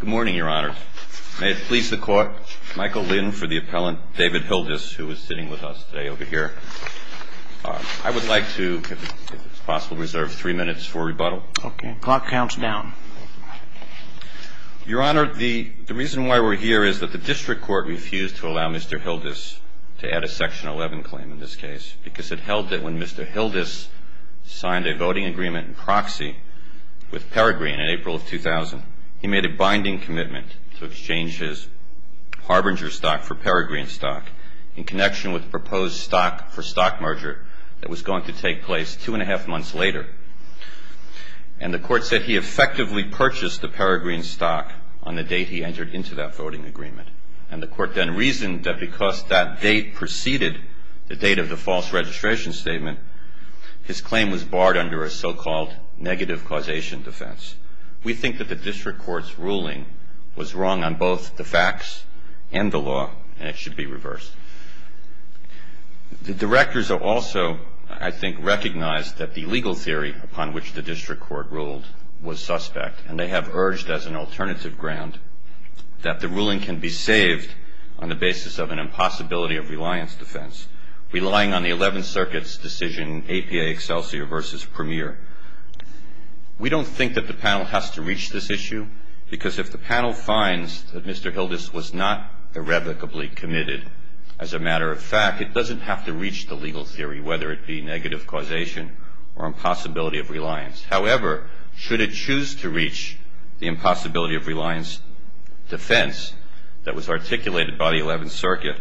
Good morning, Your Honor. May it please the Court, Michael Lynn for the appellant, David Hildes, who is sitting with us today over here. I would like to, if it's possible, reserve three minutes for rebuttal. Okay. The clock counts down. Your Honor, the reason why we're here is that the District Court refused to allow Mr. Hildes to add a Section 11 claim in this case because it held that when Mr. Hildes signed a voting agreement in proxy with Peregrine in April of 2000, he made a binding commitment to exchange his Harbinger stock for Peregrine stock in connection with the proposed stock for stock merger that was going to take place two and a half months later. And the Court said he effectively purchased the Peregrine stock on the date he entered into that voting agreement. And the Court then reasoned that because that date preceded the date of the false registration statement, his claim was barred under a so-called negative causation defense. We think that the District Court's ruling was wrong on both the facts and the law, and it should be reversed. The Directors have also, I think, recognized that the legal theory upon which the District Court ruled was suspect, and they have urged as an alternative ground that the ruling can be saved on the basis of an impossibility of reliance defense, relying on the Eleventh Circuit's decision, APA Excelsior v. Premier. We don't think that the panel has to reach this issue because if the panel finds that Mr. Hildes was not irrevocably committed, as a matter of fact, it doesn't have to reach the legal theory, whether it be negative causation or impossibility of reliance. However, should it choose to reach the impossibility of reliance defense that was articulated by the Eleventh Circuit,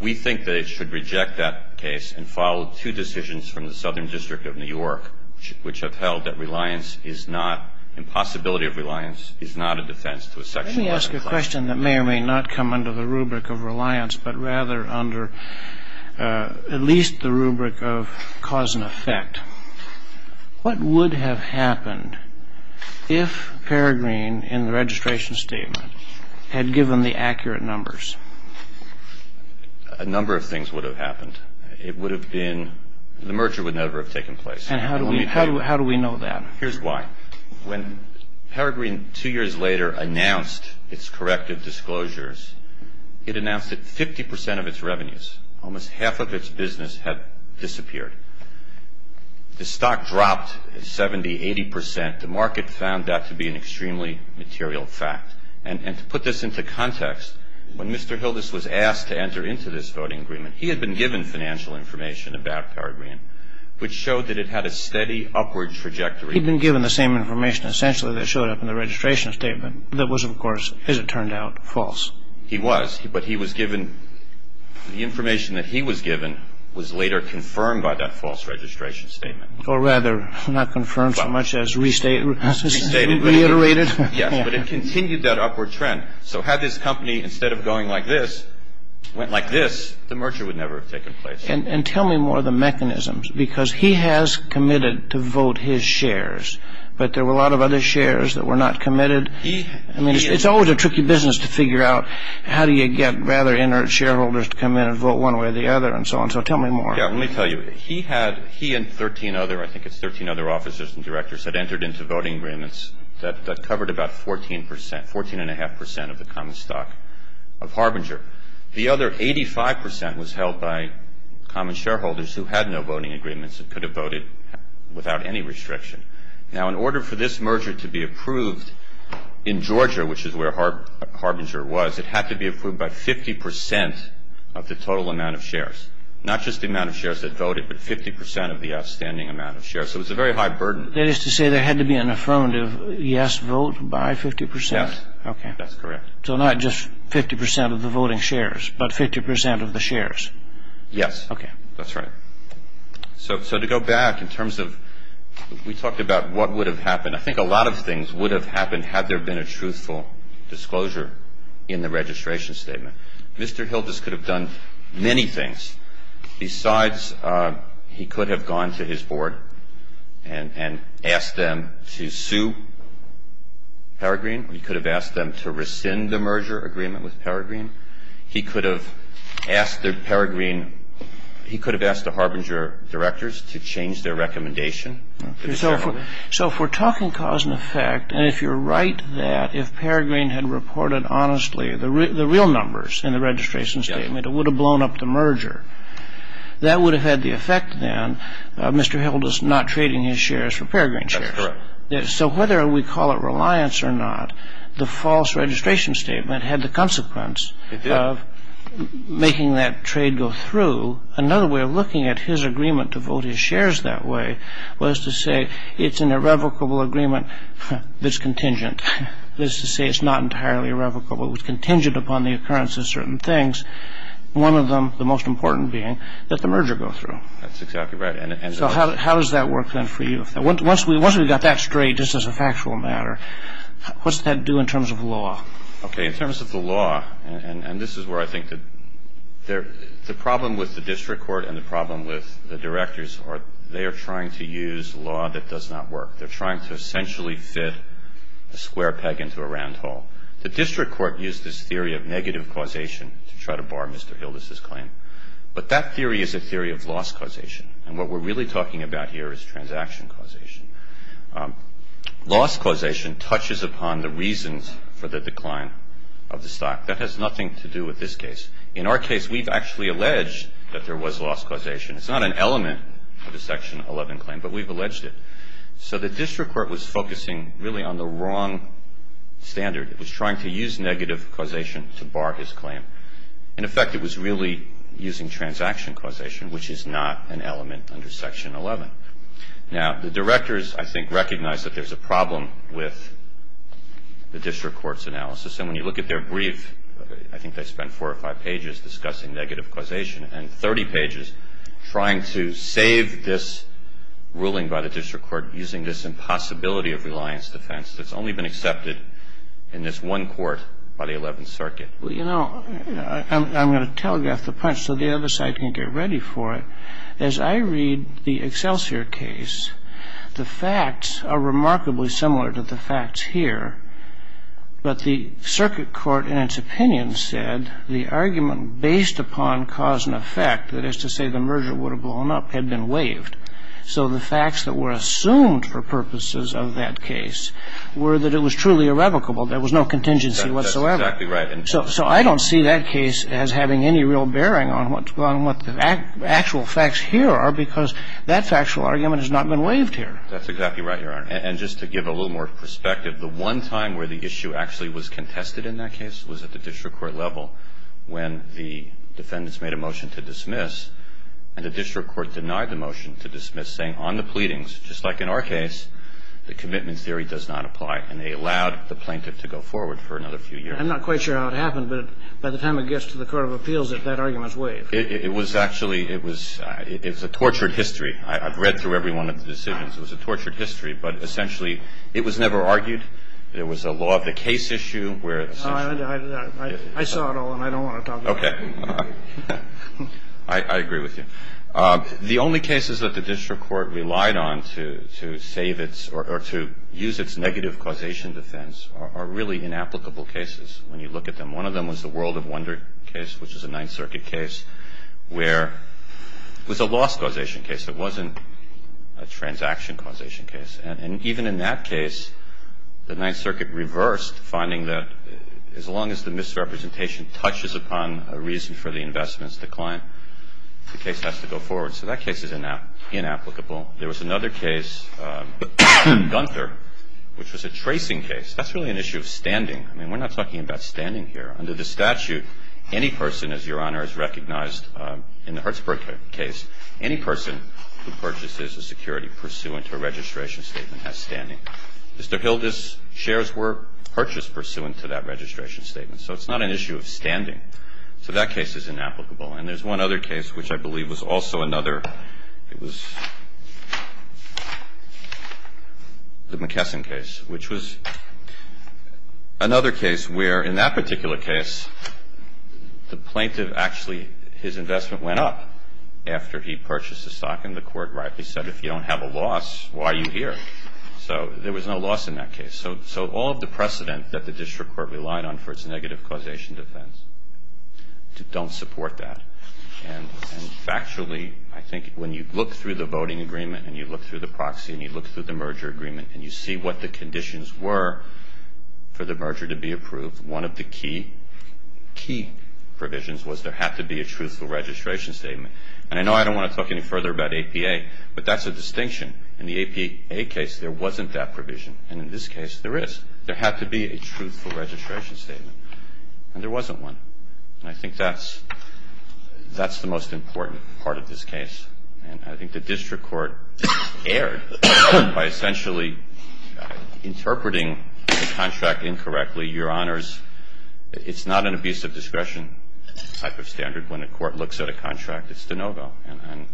we think that it should reject that case and follow two decisions from the Southern District of New York, which have held that reliance is not – impossibility of reliance is not a defense to a section 11 clause. Let me ask a question that may or may not come under the rubric of reliance, but rather under at least the rubric of cause and effect. What would have happened if Peregrine, in the registration statement, had given the accurate numbers? A number of things would have happened. It would have been – the merger would never have taken place. And how do we know that? Here's why. When Peregrine, two years later, announced its corrective disclosures, it announced that 50 percent of its revenues, almost half of its business, had disappeared. The stock dropped 70, 80 percent. The market found that to be an extremely material fact. And to put this into context, when Mr. Hildes was asked to enter into this voting agreement, he had been given financial information about Peregrine, which showed that it had a steady upward trajectory. He'd been given the same information, essentially, that showed up in the registration statement, that was, of course, as it turned out, false. He was, but he was given – the information that he was given was later confirmed by that false registration statement. Or rather, not confirmed so much as restated. Restated. Reiterated. Yes, but it continued that upward trend. So had this company, instead of going like this, went like this, the merger would never have taken place. And tell me more of the mechanisms, because he has committed to vote his shares, but there were a lot of other shares that were not committed. I mean, it's always a tricky business to figure out how do you get rather inert shareholders to come in and vote one way or the other and so on. So tell me more. Yeah, let me tell you. He had – he and 13 other – I think it's 13 other officers and directors that entered into voting agreements that covered about 14 percent, 14 and a half percent of the common stock of Harbinger. The other 85 percent was held by common shareholders who had no voting agreements and could have voted without any restriction. Now, in order for this merger to be approved in Georgia, which is where Harbinger was, it had to be approved by 50 percent of the total amount of shares. Not just the amount of shares that voted, but 50 percent of the outstanding amount of shares. So it was a very high burden. That is to say there had to be an affirmative yes vote by 50 percent? Yes. That's correct. So not just 50 percent of the voting shares, but 50 percent of the shares? Yes. Okay. That's right. So to go back in terms of – we talked about what would have happened. I think a lot of things would have happened had there been a truthful disclosure in the registration statement. Mr. Hildes could have done many things besides he could have gone to his board and asked them to sue Peregrine. He could have asked them to rescind the merger agreement with Peregrine. He could have asked the Peregrine – he could have asked the Harbinger directors to change their recommendation. So if we're talking cause and effect, and if you're right that if Peregrine had reported honestly, the real numbers in the registration statement, it would have blown up the merger. That would have had the effect then of Mr. Hildes not trading his shares for Peregrine shares. That's correct. So whether we call it reliance or not, the false registration statement had the consequence of making that trade go through. Another way of looking at his agreement to vote his shares that way was to say it's an irrevocable agreement that's contingent. That is to say it's not entirely irrevocable. It was contingent upon the occurrence of certain things. One of them, the most important being that the merger go through. That's exactly right. So how does that work then for you? Once we've got that straight just as a factual matter, what's that do in terms of law? Okay. In terms of the law, and this is where I think the problem with the district court and the problem with the directors are they are trying to use law that does not work. They're trying to essentially fit a square peg into a round hole. The district court used this theory of negative causation to try to bar Mr. Hildes' claim. But that theory is a theory of loss causation. And what we're really talking about here is transaction causation. Loss causation touches upon the reasons for the decline of the stock. That has nothing to do with this case. In our case, we've actually alleged that there was loss causation. It's not an element of a Section 11 claim, but we've alleged it. So the district court was focusing really on the wrong standard. It was trying to use negative causation to bar his claim. In effect, it was really using transaction causation, which is not an element under Section 11. Now, the directors, I think, recognize that there's a problem with the district court's analysis. And when you look at their brief, I think they spent four or five pages discussing negative causation and 30 pages trying to save this ruling by the district court using this impossibility of reliance defense that's only been accepted in this one court by the Eleventh Circuit. Well, you know, I'm going to telegraph the punch so the other side can get ready for it. As I read the Excelsior case, the facts are remarkably similar to the facts here. But the circuit court, in its opinion, said the argument based upon cause and effect, that is to say the merger would have blown up, had been waived. So the facts that were assumed for purposes of that case were that it was truly irrevocable. There was no contingency whatsoever. That's exactly right. So I don't see that case as having any real bearing on what the actual facts here are because that factual argument has not been waived here. That's exactly right, Your Honor. And just to give a little more perspective, the one time where the issue actually was contested in that case and the district court denied the motion to dismiss, saying on the pleadings, just like in our case, the commitment theory does not apply, and they allowed the plaintiff to go forward for another few years. I'm not quite sure how it happened, but by the time it gets to the court of appeals, that argument's waived. It was actually – it was – it's a tortured history. I've read through every one of the decisions. It was a tortured history. But essentially, it was never argued. There was a law of the case issue where – I saw it all, and I don't want to talk about it. Okay. I agree with you. The only cases that the district court relied on to save its – or to use its negative causation defense are really inapplicable cases when you look at them. One of them was the World of Wonder case, which is a Ninth Circuit case, where it was a loss causation case. It wasn't a transaction causation case. And even in that case, the Ninth Circuit reversed, finding that as long as the misrepresentation touches upon a reason for the investment's decline, the case has to go forward. So that case is inapplicable. There was another case, Gunther, which was a tracing case. That's really an issue of standing. I mean, we're not talking about standing here. Under the statute, any person, as Your Honor has recognized in the Hertzberg case, any person who purchases a security pursuant to a registration statement has standing. Mr. Hilda's shares were purchased pursuant to that registration statement. So it's not an issue of standing. So that case is inapplicable. And there's one other case, which I believe was also another. It was the McKesson case, which was another case where, in that particular case, the plaintiff actually – his investment went up after he purchased the stock. And the Court rightly said, if you don't have a loss, why are you here? So there was no loss in that case. So all of the precedent that the district court relied on for its negative causation defense don't support that. And factually, I think when you look through the voting agreement and you look through the proxy and you look through the merger agreement and you see what the conditions were for the merger to be approved, one of the key provisions was there had to be a truthful registration statement. And I know I don't want to talk any further about APA, but that's a distinction. In the APA case, there wasn't that provision. And in this case, there is. There had to be a truthful registration statement. And there wasn't one. And I think that's the most important part of this case. And I think the district court erred by essentially interpreting the contract incorrectly. Your Honors, it's not an abuse of discretion type of standard. When a court looks at a contract, it's de novo. And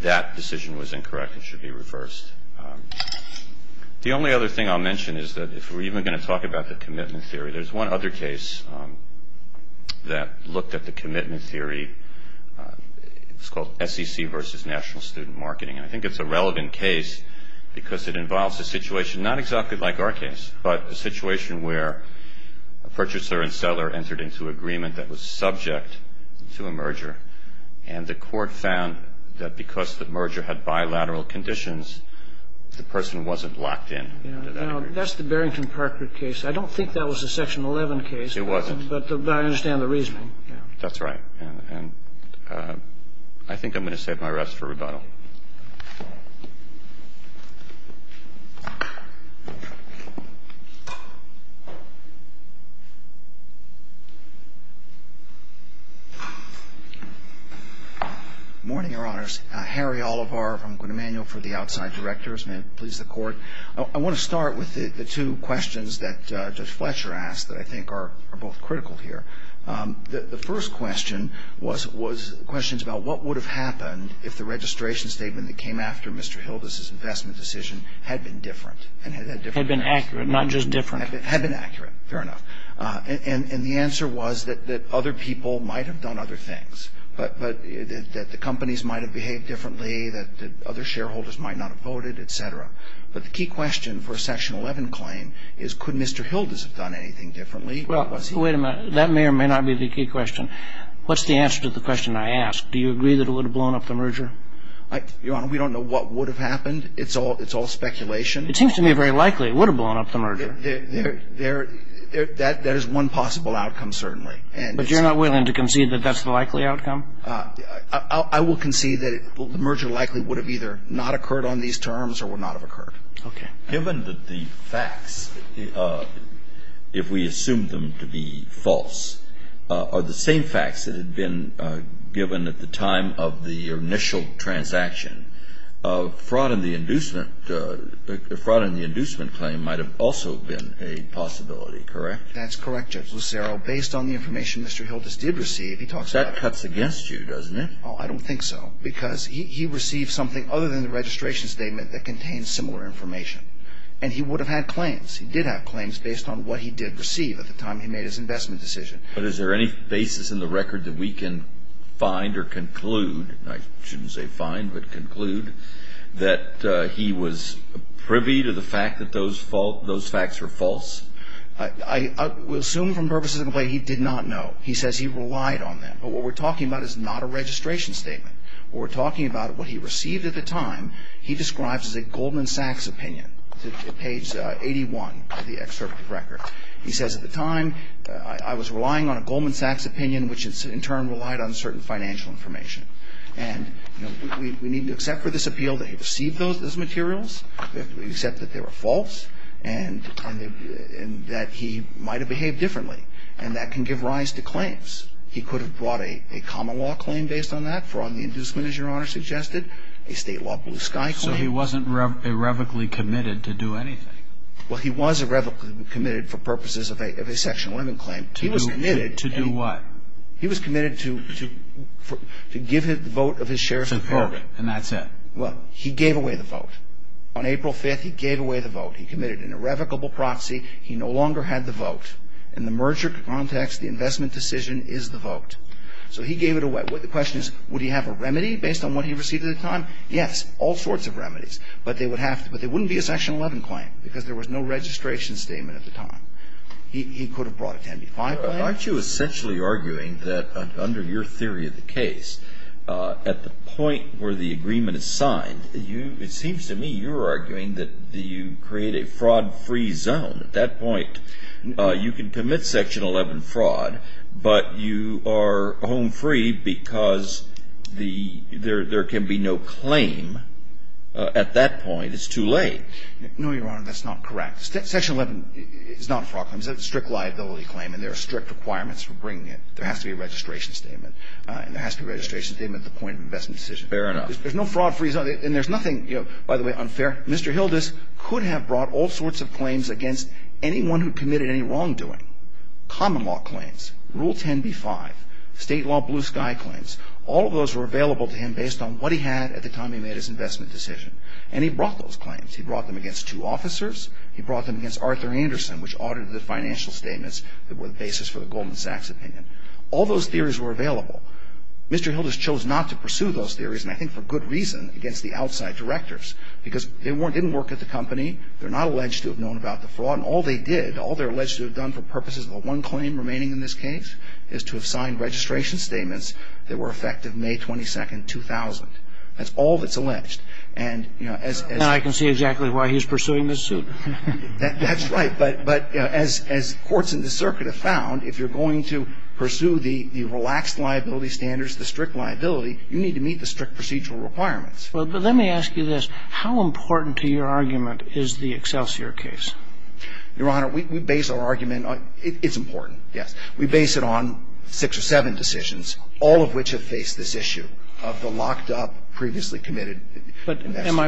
that decision was incorrect and should be reversed. The only other thing I'll mention is that if we're even going to talk about the commitment theory, there's one other case that looked at the commitment theory. It's called SEC versus National Student Marketing. And I think it's a relevant case because it involves a situation not exactly like our case, but a situation where a purchaser and seller entered into agreement that was subject to a merger, and the court found that because the merger had bilateral conditions, the person wasn't locked in. That's the Barrington Parker case. I don't think that was a Section 11 case. It wasn't. But I understand the reasoning. That's right. And I think I'm going to save my rest for rebuttal. Thank you. Good morning, Your Honors. Harry Olivar from Quinn Emanuel for the Outside Directors. May it please the Court. I want to start with the two questions that Judge Fletcher asked that I think are both critical here. The first question was questions about what would have happened if the registration statement that came after Mr. Hildes' investment decision had been different. Had been accurate, not just different. Had been accurate, fair enough. And the answer was that other people might have done other things, that the companies might have behaved differently, that other shareholders might not have voted, et cetera. But the key question for a Section 11 claim is could Mr. Hildes have done anything differently? Well, wait a minute. That may or may not be the key question. What's the answer to the question I asked? Do you agree that it would have blown up the merger? Your Honor, we don't know what would have happened. It's all speculation. It seems to me very likely it would have blown up the merger. There is one possible outcome, certainly. But you're not willing to concede that that's the likely outcome? I will concede that the merger likely would have either not occurred on these terms or would not have occurred. Okay. Given that the facts, if we assume them to be false, are the same facts that had been given at the time of the initial transaction, fraud in the inducement claim might have also been a possibility, correct? That's correct, Judge Lucero. Based on the information Mr. Hildes did receive, he talks about the merger. That cuts against you, doesn't it? Oh, I don't think so. Because he received something other than the registration statement that contains similar information. And he would have had claims. He did have claims based on what he did receive at the time he made his investment decision. But is there any basis in the record that we can find or conclude, I shouldn't say find but conclude, that he was privy to the fact that those facts were false? I will assume from purposes of the claim he did not know. He says he relied on them. But what we're talking about is not a registration statement. We're talking about what he received at the time he describes as a Goldman Sachs opinion. Page 81 of the excerpt of the record. He says at the time I was relying on a Goldman Sachs opinion, which in turn relied on certain financial information. And we need to accept for this appeal that he received those materials, accept that they were false, and that he might have behaved differently. And that can give rise to claims. He could have brought a common law claim based on that, fraud and inducement, as Your Honor suggested, a state law blue sky claim. So he wasn't irrevocably committed to do anything? Well, he was irrevocably committed for purposes of a Section 11 claim. He was committed to do what? He was committed to give the vote of his shares to the public. And that's it? Well, he gave away the vote. On April 5th, he gave away the vote. He committed an irrevocable proxy. He no longer had the vote. In the merger context, the investment decision is the vote. So he gave it away. The question is, would he have a remedy based on what he received at the time? Yes, all sorts of remedies. But they wouldn't be a Section 11 claim because there was no registration statement at the time. He could have brought a 10b-5 claim. Aren't you essentially arguing that under your theory of the case, at the point where the agreement is signed, it seems to me you're arguing that you create a fraud-free zone. At that point, you can commit Section 11 fraud, but you are home free because there can be no claim at that point. It's too late. No, Your Honor. That's not correct. Section 11 is not a fraud claim. It's a strict liability claim, and there are strict requirements for bringing it. There has to be a registration statement. And there has to be a registration statement at the point of investment decision. Fair enough. There's no fraud-free zone. And there's nothing, you know, by the way, unfair. Mr. Hildes could have brought all sorts of claims against anyone who committed any wrongdoing. Common law claims. Rule 10b-5. State law blue sky claims. All of those were available to him based on what he had at the time he made his investment decision. And he brought those claims. He brought them against two officers. He brought them against Arthur Anderson, which audited the financial statements that were the basis for the Goldman Sachs opinion. All those theories were available. Mr. Hildes chose not to pursue those theories, and I think for good reason, against the outside directors. Because they didn't work at the company. They're not alleged to have known about the fraud. And all they did, all they're alleged to have done for purposes of the one claim remaining in this case is to have signed registration statements that were effective May 22nd, 2000. That's all that's alleged. And, you know, as ---- And I can see exactly why he's pursuing this suit. That's right. But as courts in the circuit have found, if you're going to pursue the relaxed liability standards, the strict liability, you need to meet the strict procedural requirements. Well, but let me ask you this. How important to your argument is the Excelsior case? Your Honor, we base our argument on ---- it's important, yes. We base it on six or seven decisions, all of which have faced this issue of the locked up, previously committed ---- But am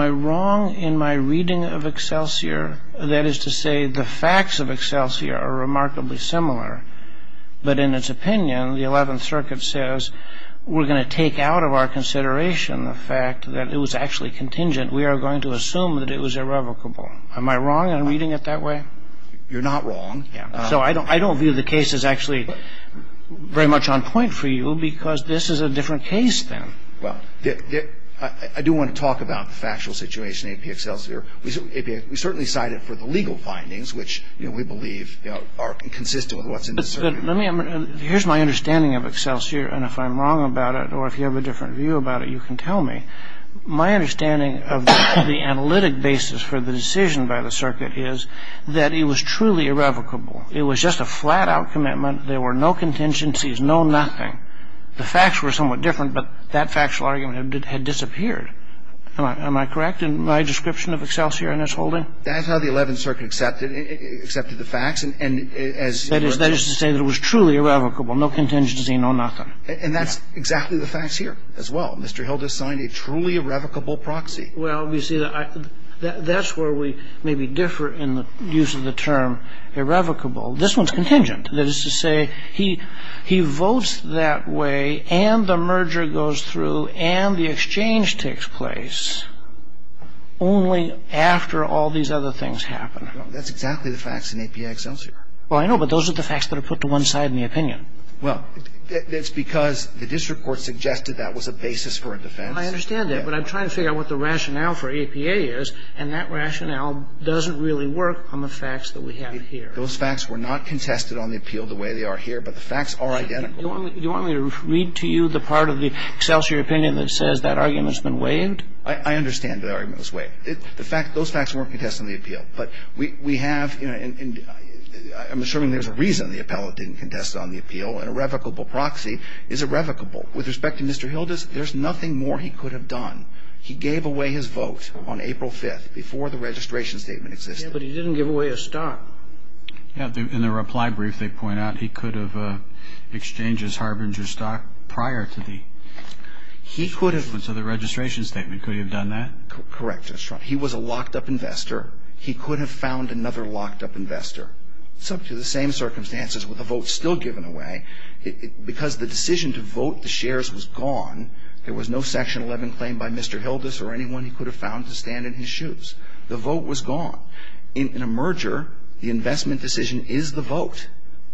I wrong in my reading of Excelsior, that is to say the facts of Excelsior are remarkably similar, but in its opinion, the Eleventh Circuit says we're going to take out of our consideration the fact that it was actually contingent. We are going to assume that it was irrevocable. Am I wrong in reading it that way? You're not wrong. So I don't view the case as actually very much on point for you because this is a different case then. Well, I do want to talk about the factual situation in AP Excelsior. We certainly cite it for the legal findings, which, you know, we believe, you know, are consistent with what's in the circuit. But let me ---- here's my understanding of Excelsior, and if I'm wrong about it or if you have a different view about it, you can tell me. My understanding of the analytic basis for the decision by the circuit is that it was truly irrevocable. It was just a flat-out commitment. There were no contingencies, no nothing. The facts were somewhat different, but that factual argument had disappeared. Am I correct in my description of Excelsior in this holding? That's how the Eleventh Circuit accepted the facts, and as ---- That is to say that it was truly irrevocable, no contingency, no nothing. And that's exactly the facts here as well. Mr. Hilda signed a truly irrevocable proxy. Well, you see, that's where we maybe differ in the use of the term irrevocable. This one's contingent. That is to say he votes that way and the merger goes through and the exchange takes place only after all these other things happen. That's exactly the facts in AP Excelsior. Well, I know, but those are the facts that are put to one side in the opinion. Well, it's because the district court suggested that was a basis for a defense. I understand that, but I'm trying to figure out what the rationale for APA is, and that rationale doesn't really work on the facts that we have here. Those facts were not contested on the appeal the way they are here, but the facts are identical. You want me to read to you the part of the Excelsior opinion that says that argument has been waived? I understand that argument was waived. The fact that those facts weren't contested on the appeal, but we have, you know, and I'm assuming there's a reason the appellate didn't contest it on the appeal, and irrevocable proxy is irrevocable. With respect to Mr. Hilda's, there's nothing more he could have done. He gave away his vote on April 5th before the registration statement existed. Yeah, but he didn't give away his stock. Yeah. In the reply brief, they point out he could have exchanged his Harbinger stock prior to the registration statement. He could have. Could he have done that? Correct. He was a locked-up investor. He could have found another locked-up investor. It's up to the same circumstances with a vote still given away. Because the decision to vote the shares was gone, there was no Section 11 claim by Mr. Hilda's or anyone he could have found to stand in his shoes. The vote was gone. In a merger, the investment decision is the vote.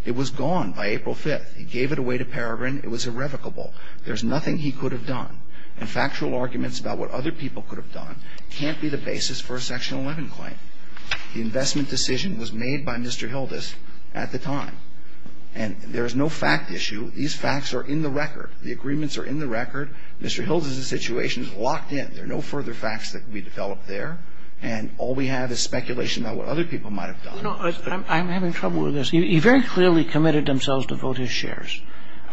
It was gone by April 5th. He gave it away to Peregrin. It was irrevocable. There's nothing he could have done. And factual arguments about what other people could have done can't be the basis for a Section 11 claim. The investment decision was made by Mr. Hilda's at the time. And there's no fact issue. These facts are in the record. The agreements are in the record. Mr. Hilda's situation is locked in. There are no further facts that can be developed there. And all we have is speculation about what other people might have done. You know, I'm having trouble with this. He very clearly committed themselves to vote his shares.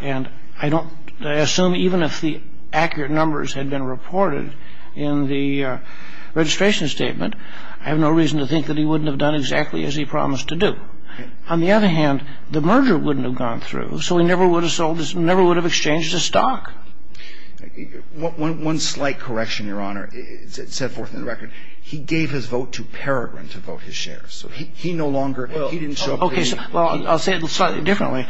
And I don't assume even if the accurate numbers had been reported in the registration statement, I have no reason to think that he wouldn't have done exactly as he promised to do. On the other hand, the merger wouldn't have gone through, so he never would have sold his ñ never would have exchanged his stock. One slight correction, Your Honor. It's set forth in the record. He gave his vote to Peregrin to vote his shares. So he no longer ñ he didn't show up. Okay. Well, I'll say it slightly differently.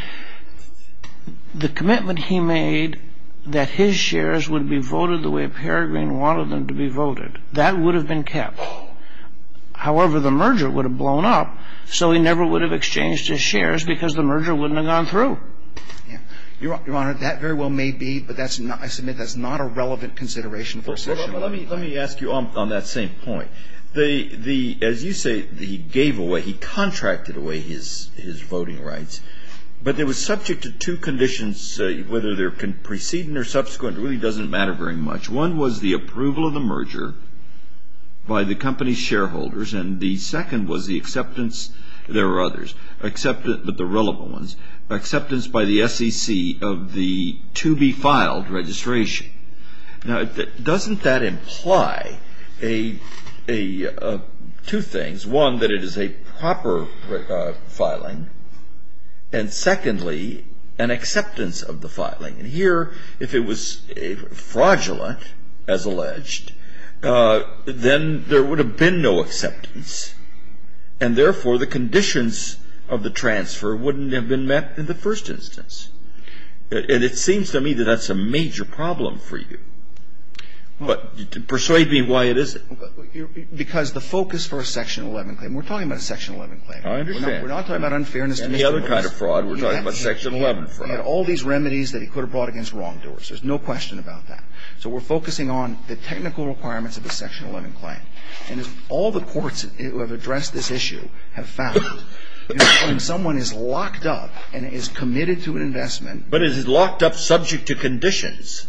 The commitment he made that his shares would be voted the way Peregrin wanted them to be voted, that would have been kept. However, the merger would have blown up, so he never would have exchanged his shares because the merger wouldn't have gone through. Yeah. Your Honor, that very well may be, but that's not ñ I submit that's not a relevant consideration for a session like that. Let me ask you on that same point. As you say, he gave away ñ he contracted away his voting rights. But they were subject to two conditions, whether they're precedent or subsequent. It really doesn't matter very much. One was the approval of the merger by the company's shareholders, and the second was the acceptance ñ there were others, but the relevant ones ñ acceptance by the SEC of the to-be-filed registration. Now, doesn't that imply two things? One, that it is a proper filing, and secondly, an acceptance of the filing. And here, if it was fraudulent, as alleged, then there would have been no acceptance, and therefore the conditions of the transfer wouldn't have been met in the first instance. And it seems to me that that's a major problem for you. But persuade me why it isn't. Because the focus for a Section 11 claim ñ we're talking about a Section 11 claim. I understand. We're not talking about unfairness to Mr. Lewis. And the other kind of fraud. We're talking about Section 11 fraud. He had all these remedies that he could have brought against wrongdoers. There's no question about that. So we're focusing on the technical requirements of a Section 11 claim. And as all the courts who have addressed this issue have found, when someone is But is it locked up subject to conditions?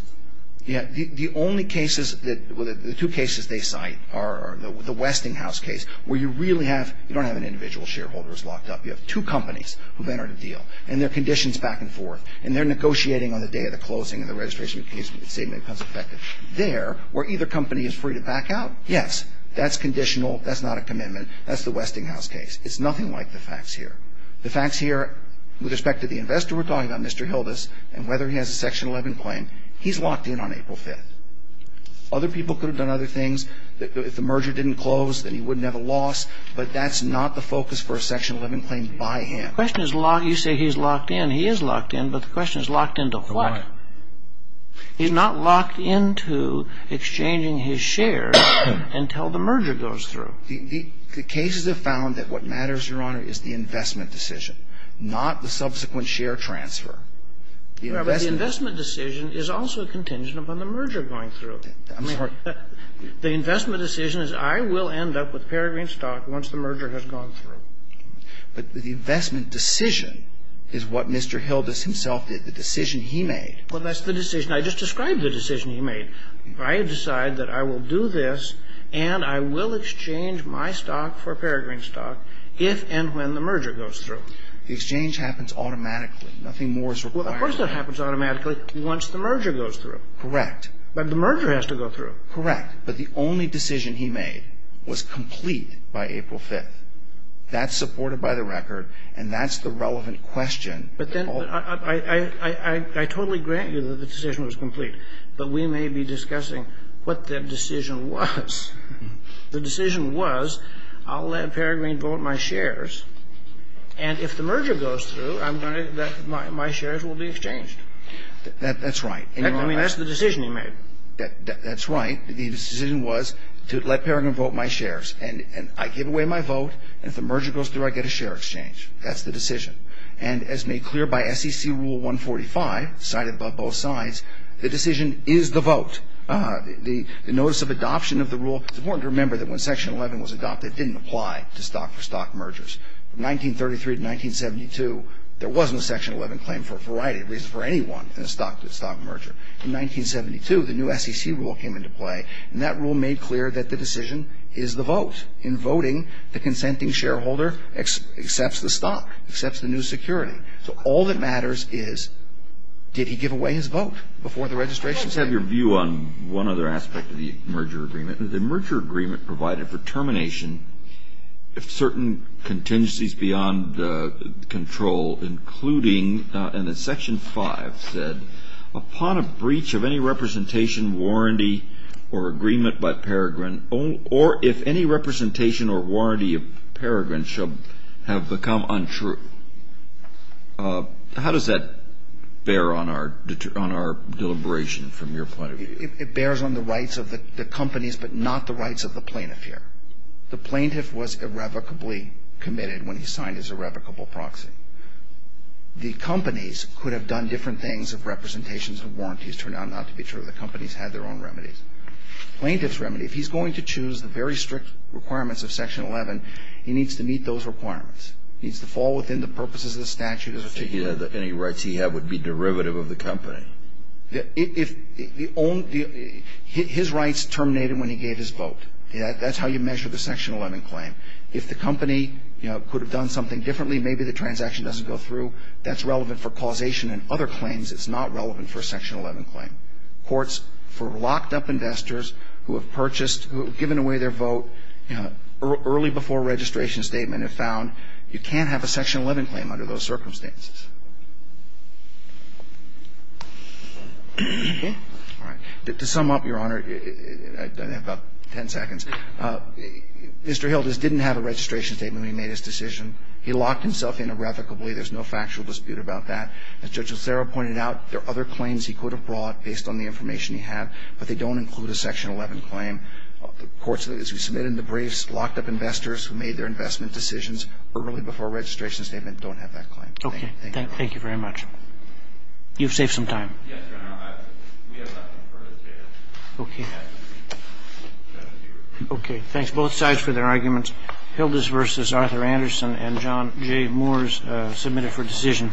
Yeah. The only cases that ñ the two cases they cite are the Westinghouse case, where you really have ñ you don't have an individual shareholder who's locked up. You have two companies who've entered a deal. And their condition's back and forth. And they're negotiating on the day of the closing, and the registration statement becomes effective. There, where either company is free to back out, yes, that's conditional. That's not a commitment. That's the Westinghouse case. It's nothing like the facts here. The facts here, with respect to the investor we're talking about, Mr. Hildas, and whether he has a Section 11 claim, he's locked in on April 5th. Other people could have done other things. If the merger didn't close, then he wouldn't have a loss. But that's not the focus for a Section 11 claim by him. The question is locked ñ you say he's locked in. He is locked in. But the question is locked into what? He's not locked into exchanging his shares until the merger goes through. The cases have found that what matters, Your Honor, is the investment decision, not the subsequent share transfer. But the investment decision is also contingent upon the merger going through. I'm sorry. The investment decision is I will end up with Peregrine Stock once the merger has gone through. But the investment decision is what Mr. Hildas himself did, the decision he made. Well, that's the decision. I just described the decision he made. I decide that I will do this, and I will exchange my stock for Peregrine Stock if and when the merger goes through. The exchange happens automatically. Nothing more is required. Well, of course that happens automatically once the merger goes through. Correct. But the merger has to go through. Correct. But the only decision he made was complete by April 5th. That's supported by the record, and that's the relevant question. I totally grant you that the decision was complete, but we may be discussing what the decision was. The decision was I'll let Peregrine vote my shares, and if the merger goes through, my shares will be exchanged. That's right. I mean, that's the decision he made. That's right. The decision was to let Peregrine vote my shares. And I give away my vote, and if the merger goes through, I get a share exchange. That's the decision. And as made clear by SEC Rule 145, cited by both sides, the decision is the vote. The notice of adoption of the rule. It's important to remember that when Section 11 was adopted, it didn't apply to stock for stock mergers. From 1933 to 1972, there wasn't a Section 11 claim for a variety of reasons for anyone in a stock merger. In 1972, the new SEC rule came into play, and that rule made clear that the decision is the vote. In voting, the consenting shareholder accepts the stock, accepts the new security. So all that matters is did he give away his vote before the registration center? Let me have your view on one other aspect of the merger agreement. The merger agreement provided for termination if certain contingencies beyond the control, including, and then Section 5 said, upon a breach of any representation, warranty, or agreement by Peregrine, or if any representation or warranty of Peregrine shall have become untrue. How does that bear on our deliberation from your point of view? It bears on the rights of the companies, but not the rights of the plaintiff here. The plaintiff was irrevocably committed when he signed his irrevocable proxy. The companies could have done different things if representations and warranties turned out not to be true. The companies had their own remedies. Plaintiff's remedy. If he's going to choose the very strict requirements of Section 11, he needs to meet those requirements. He needs to fall within the purposes of the statute. Any rights he had would be derivative of the company. If the own the his rights terminated when he gave his vote. That's how you measure the Section 11 claim. If the company could have done something differently, maybe the transaction doesn't go through, that's relevant for causation and other claims. It's not relevant for a Section 11 claim. Courts for locked up investors who have purchased, who have given away their vote early before registration statement have found you can't have a Section 11 claim under those circumstances. All right. To sum up, Your Honor, I have about ten seconds. Mr. Hilda's didn't have a registration statement when he made his decision. He locked himself in irrevocably. There's no factual dispute about that. As Judge O'Sara pointed out, there are other claims he could have brought based on the information he had, but they don't include a Section 11 claim. Courts, as we submitted in the briefs, locked up investors who made their investment decisions early before registration statement don't have that claim. Thank you, Your Honor. Okay. Thank you very much. You've saved some time. Yes, Your Honor. We have left them for a chance. Okay. Okay. Thanks both sides for their arguments. Hilda's versus Arthur Anderson and John J. Moore's submitted for decision.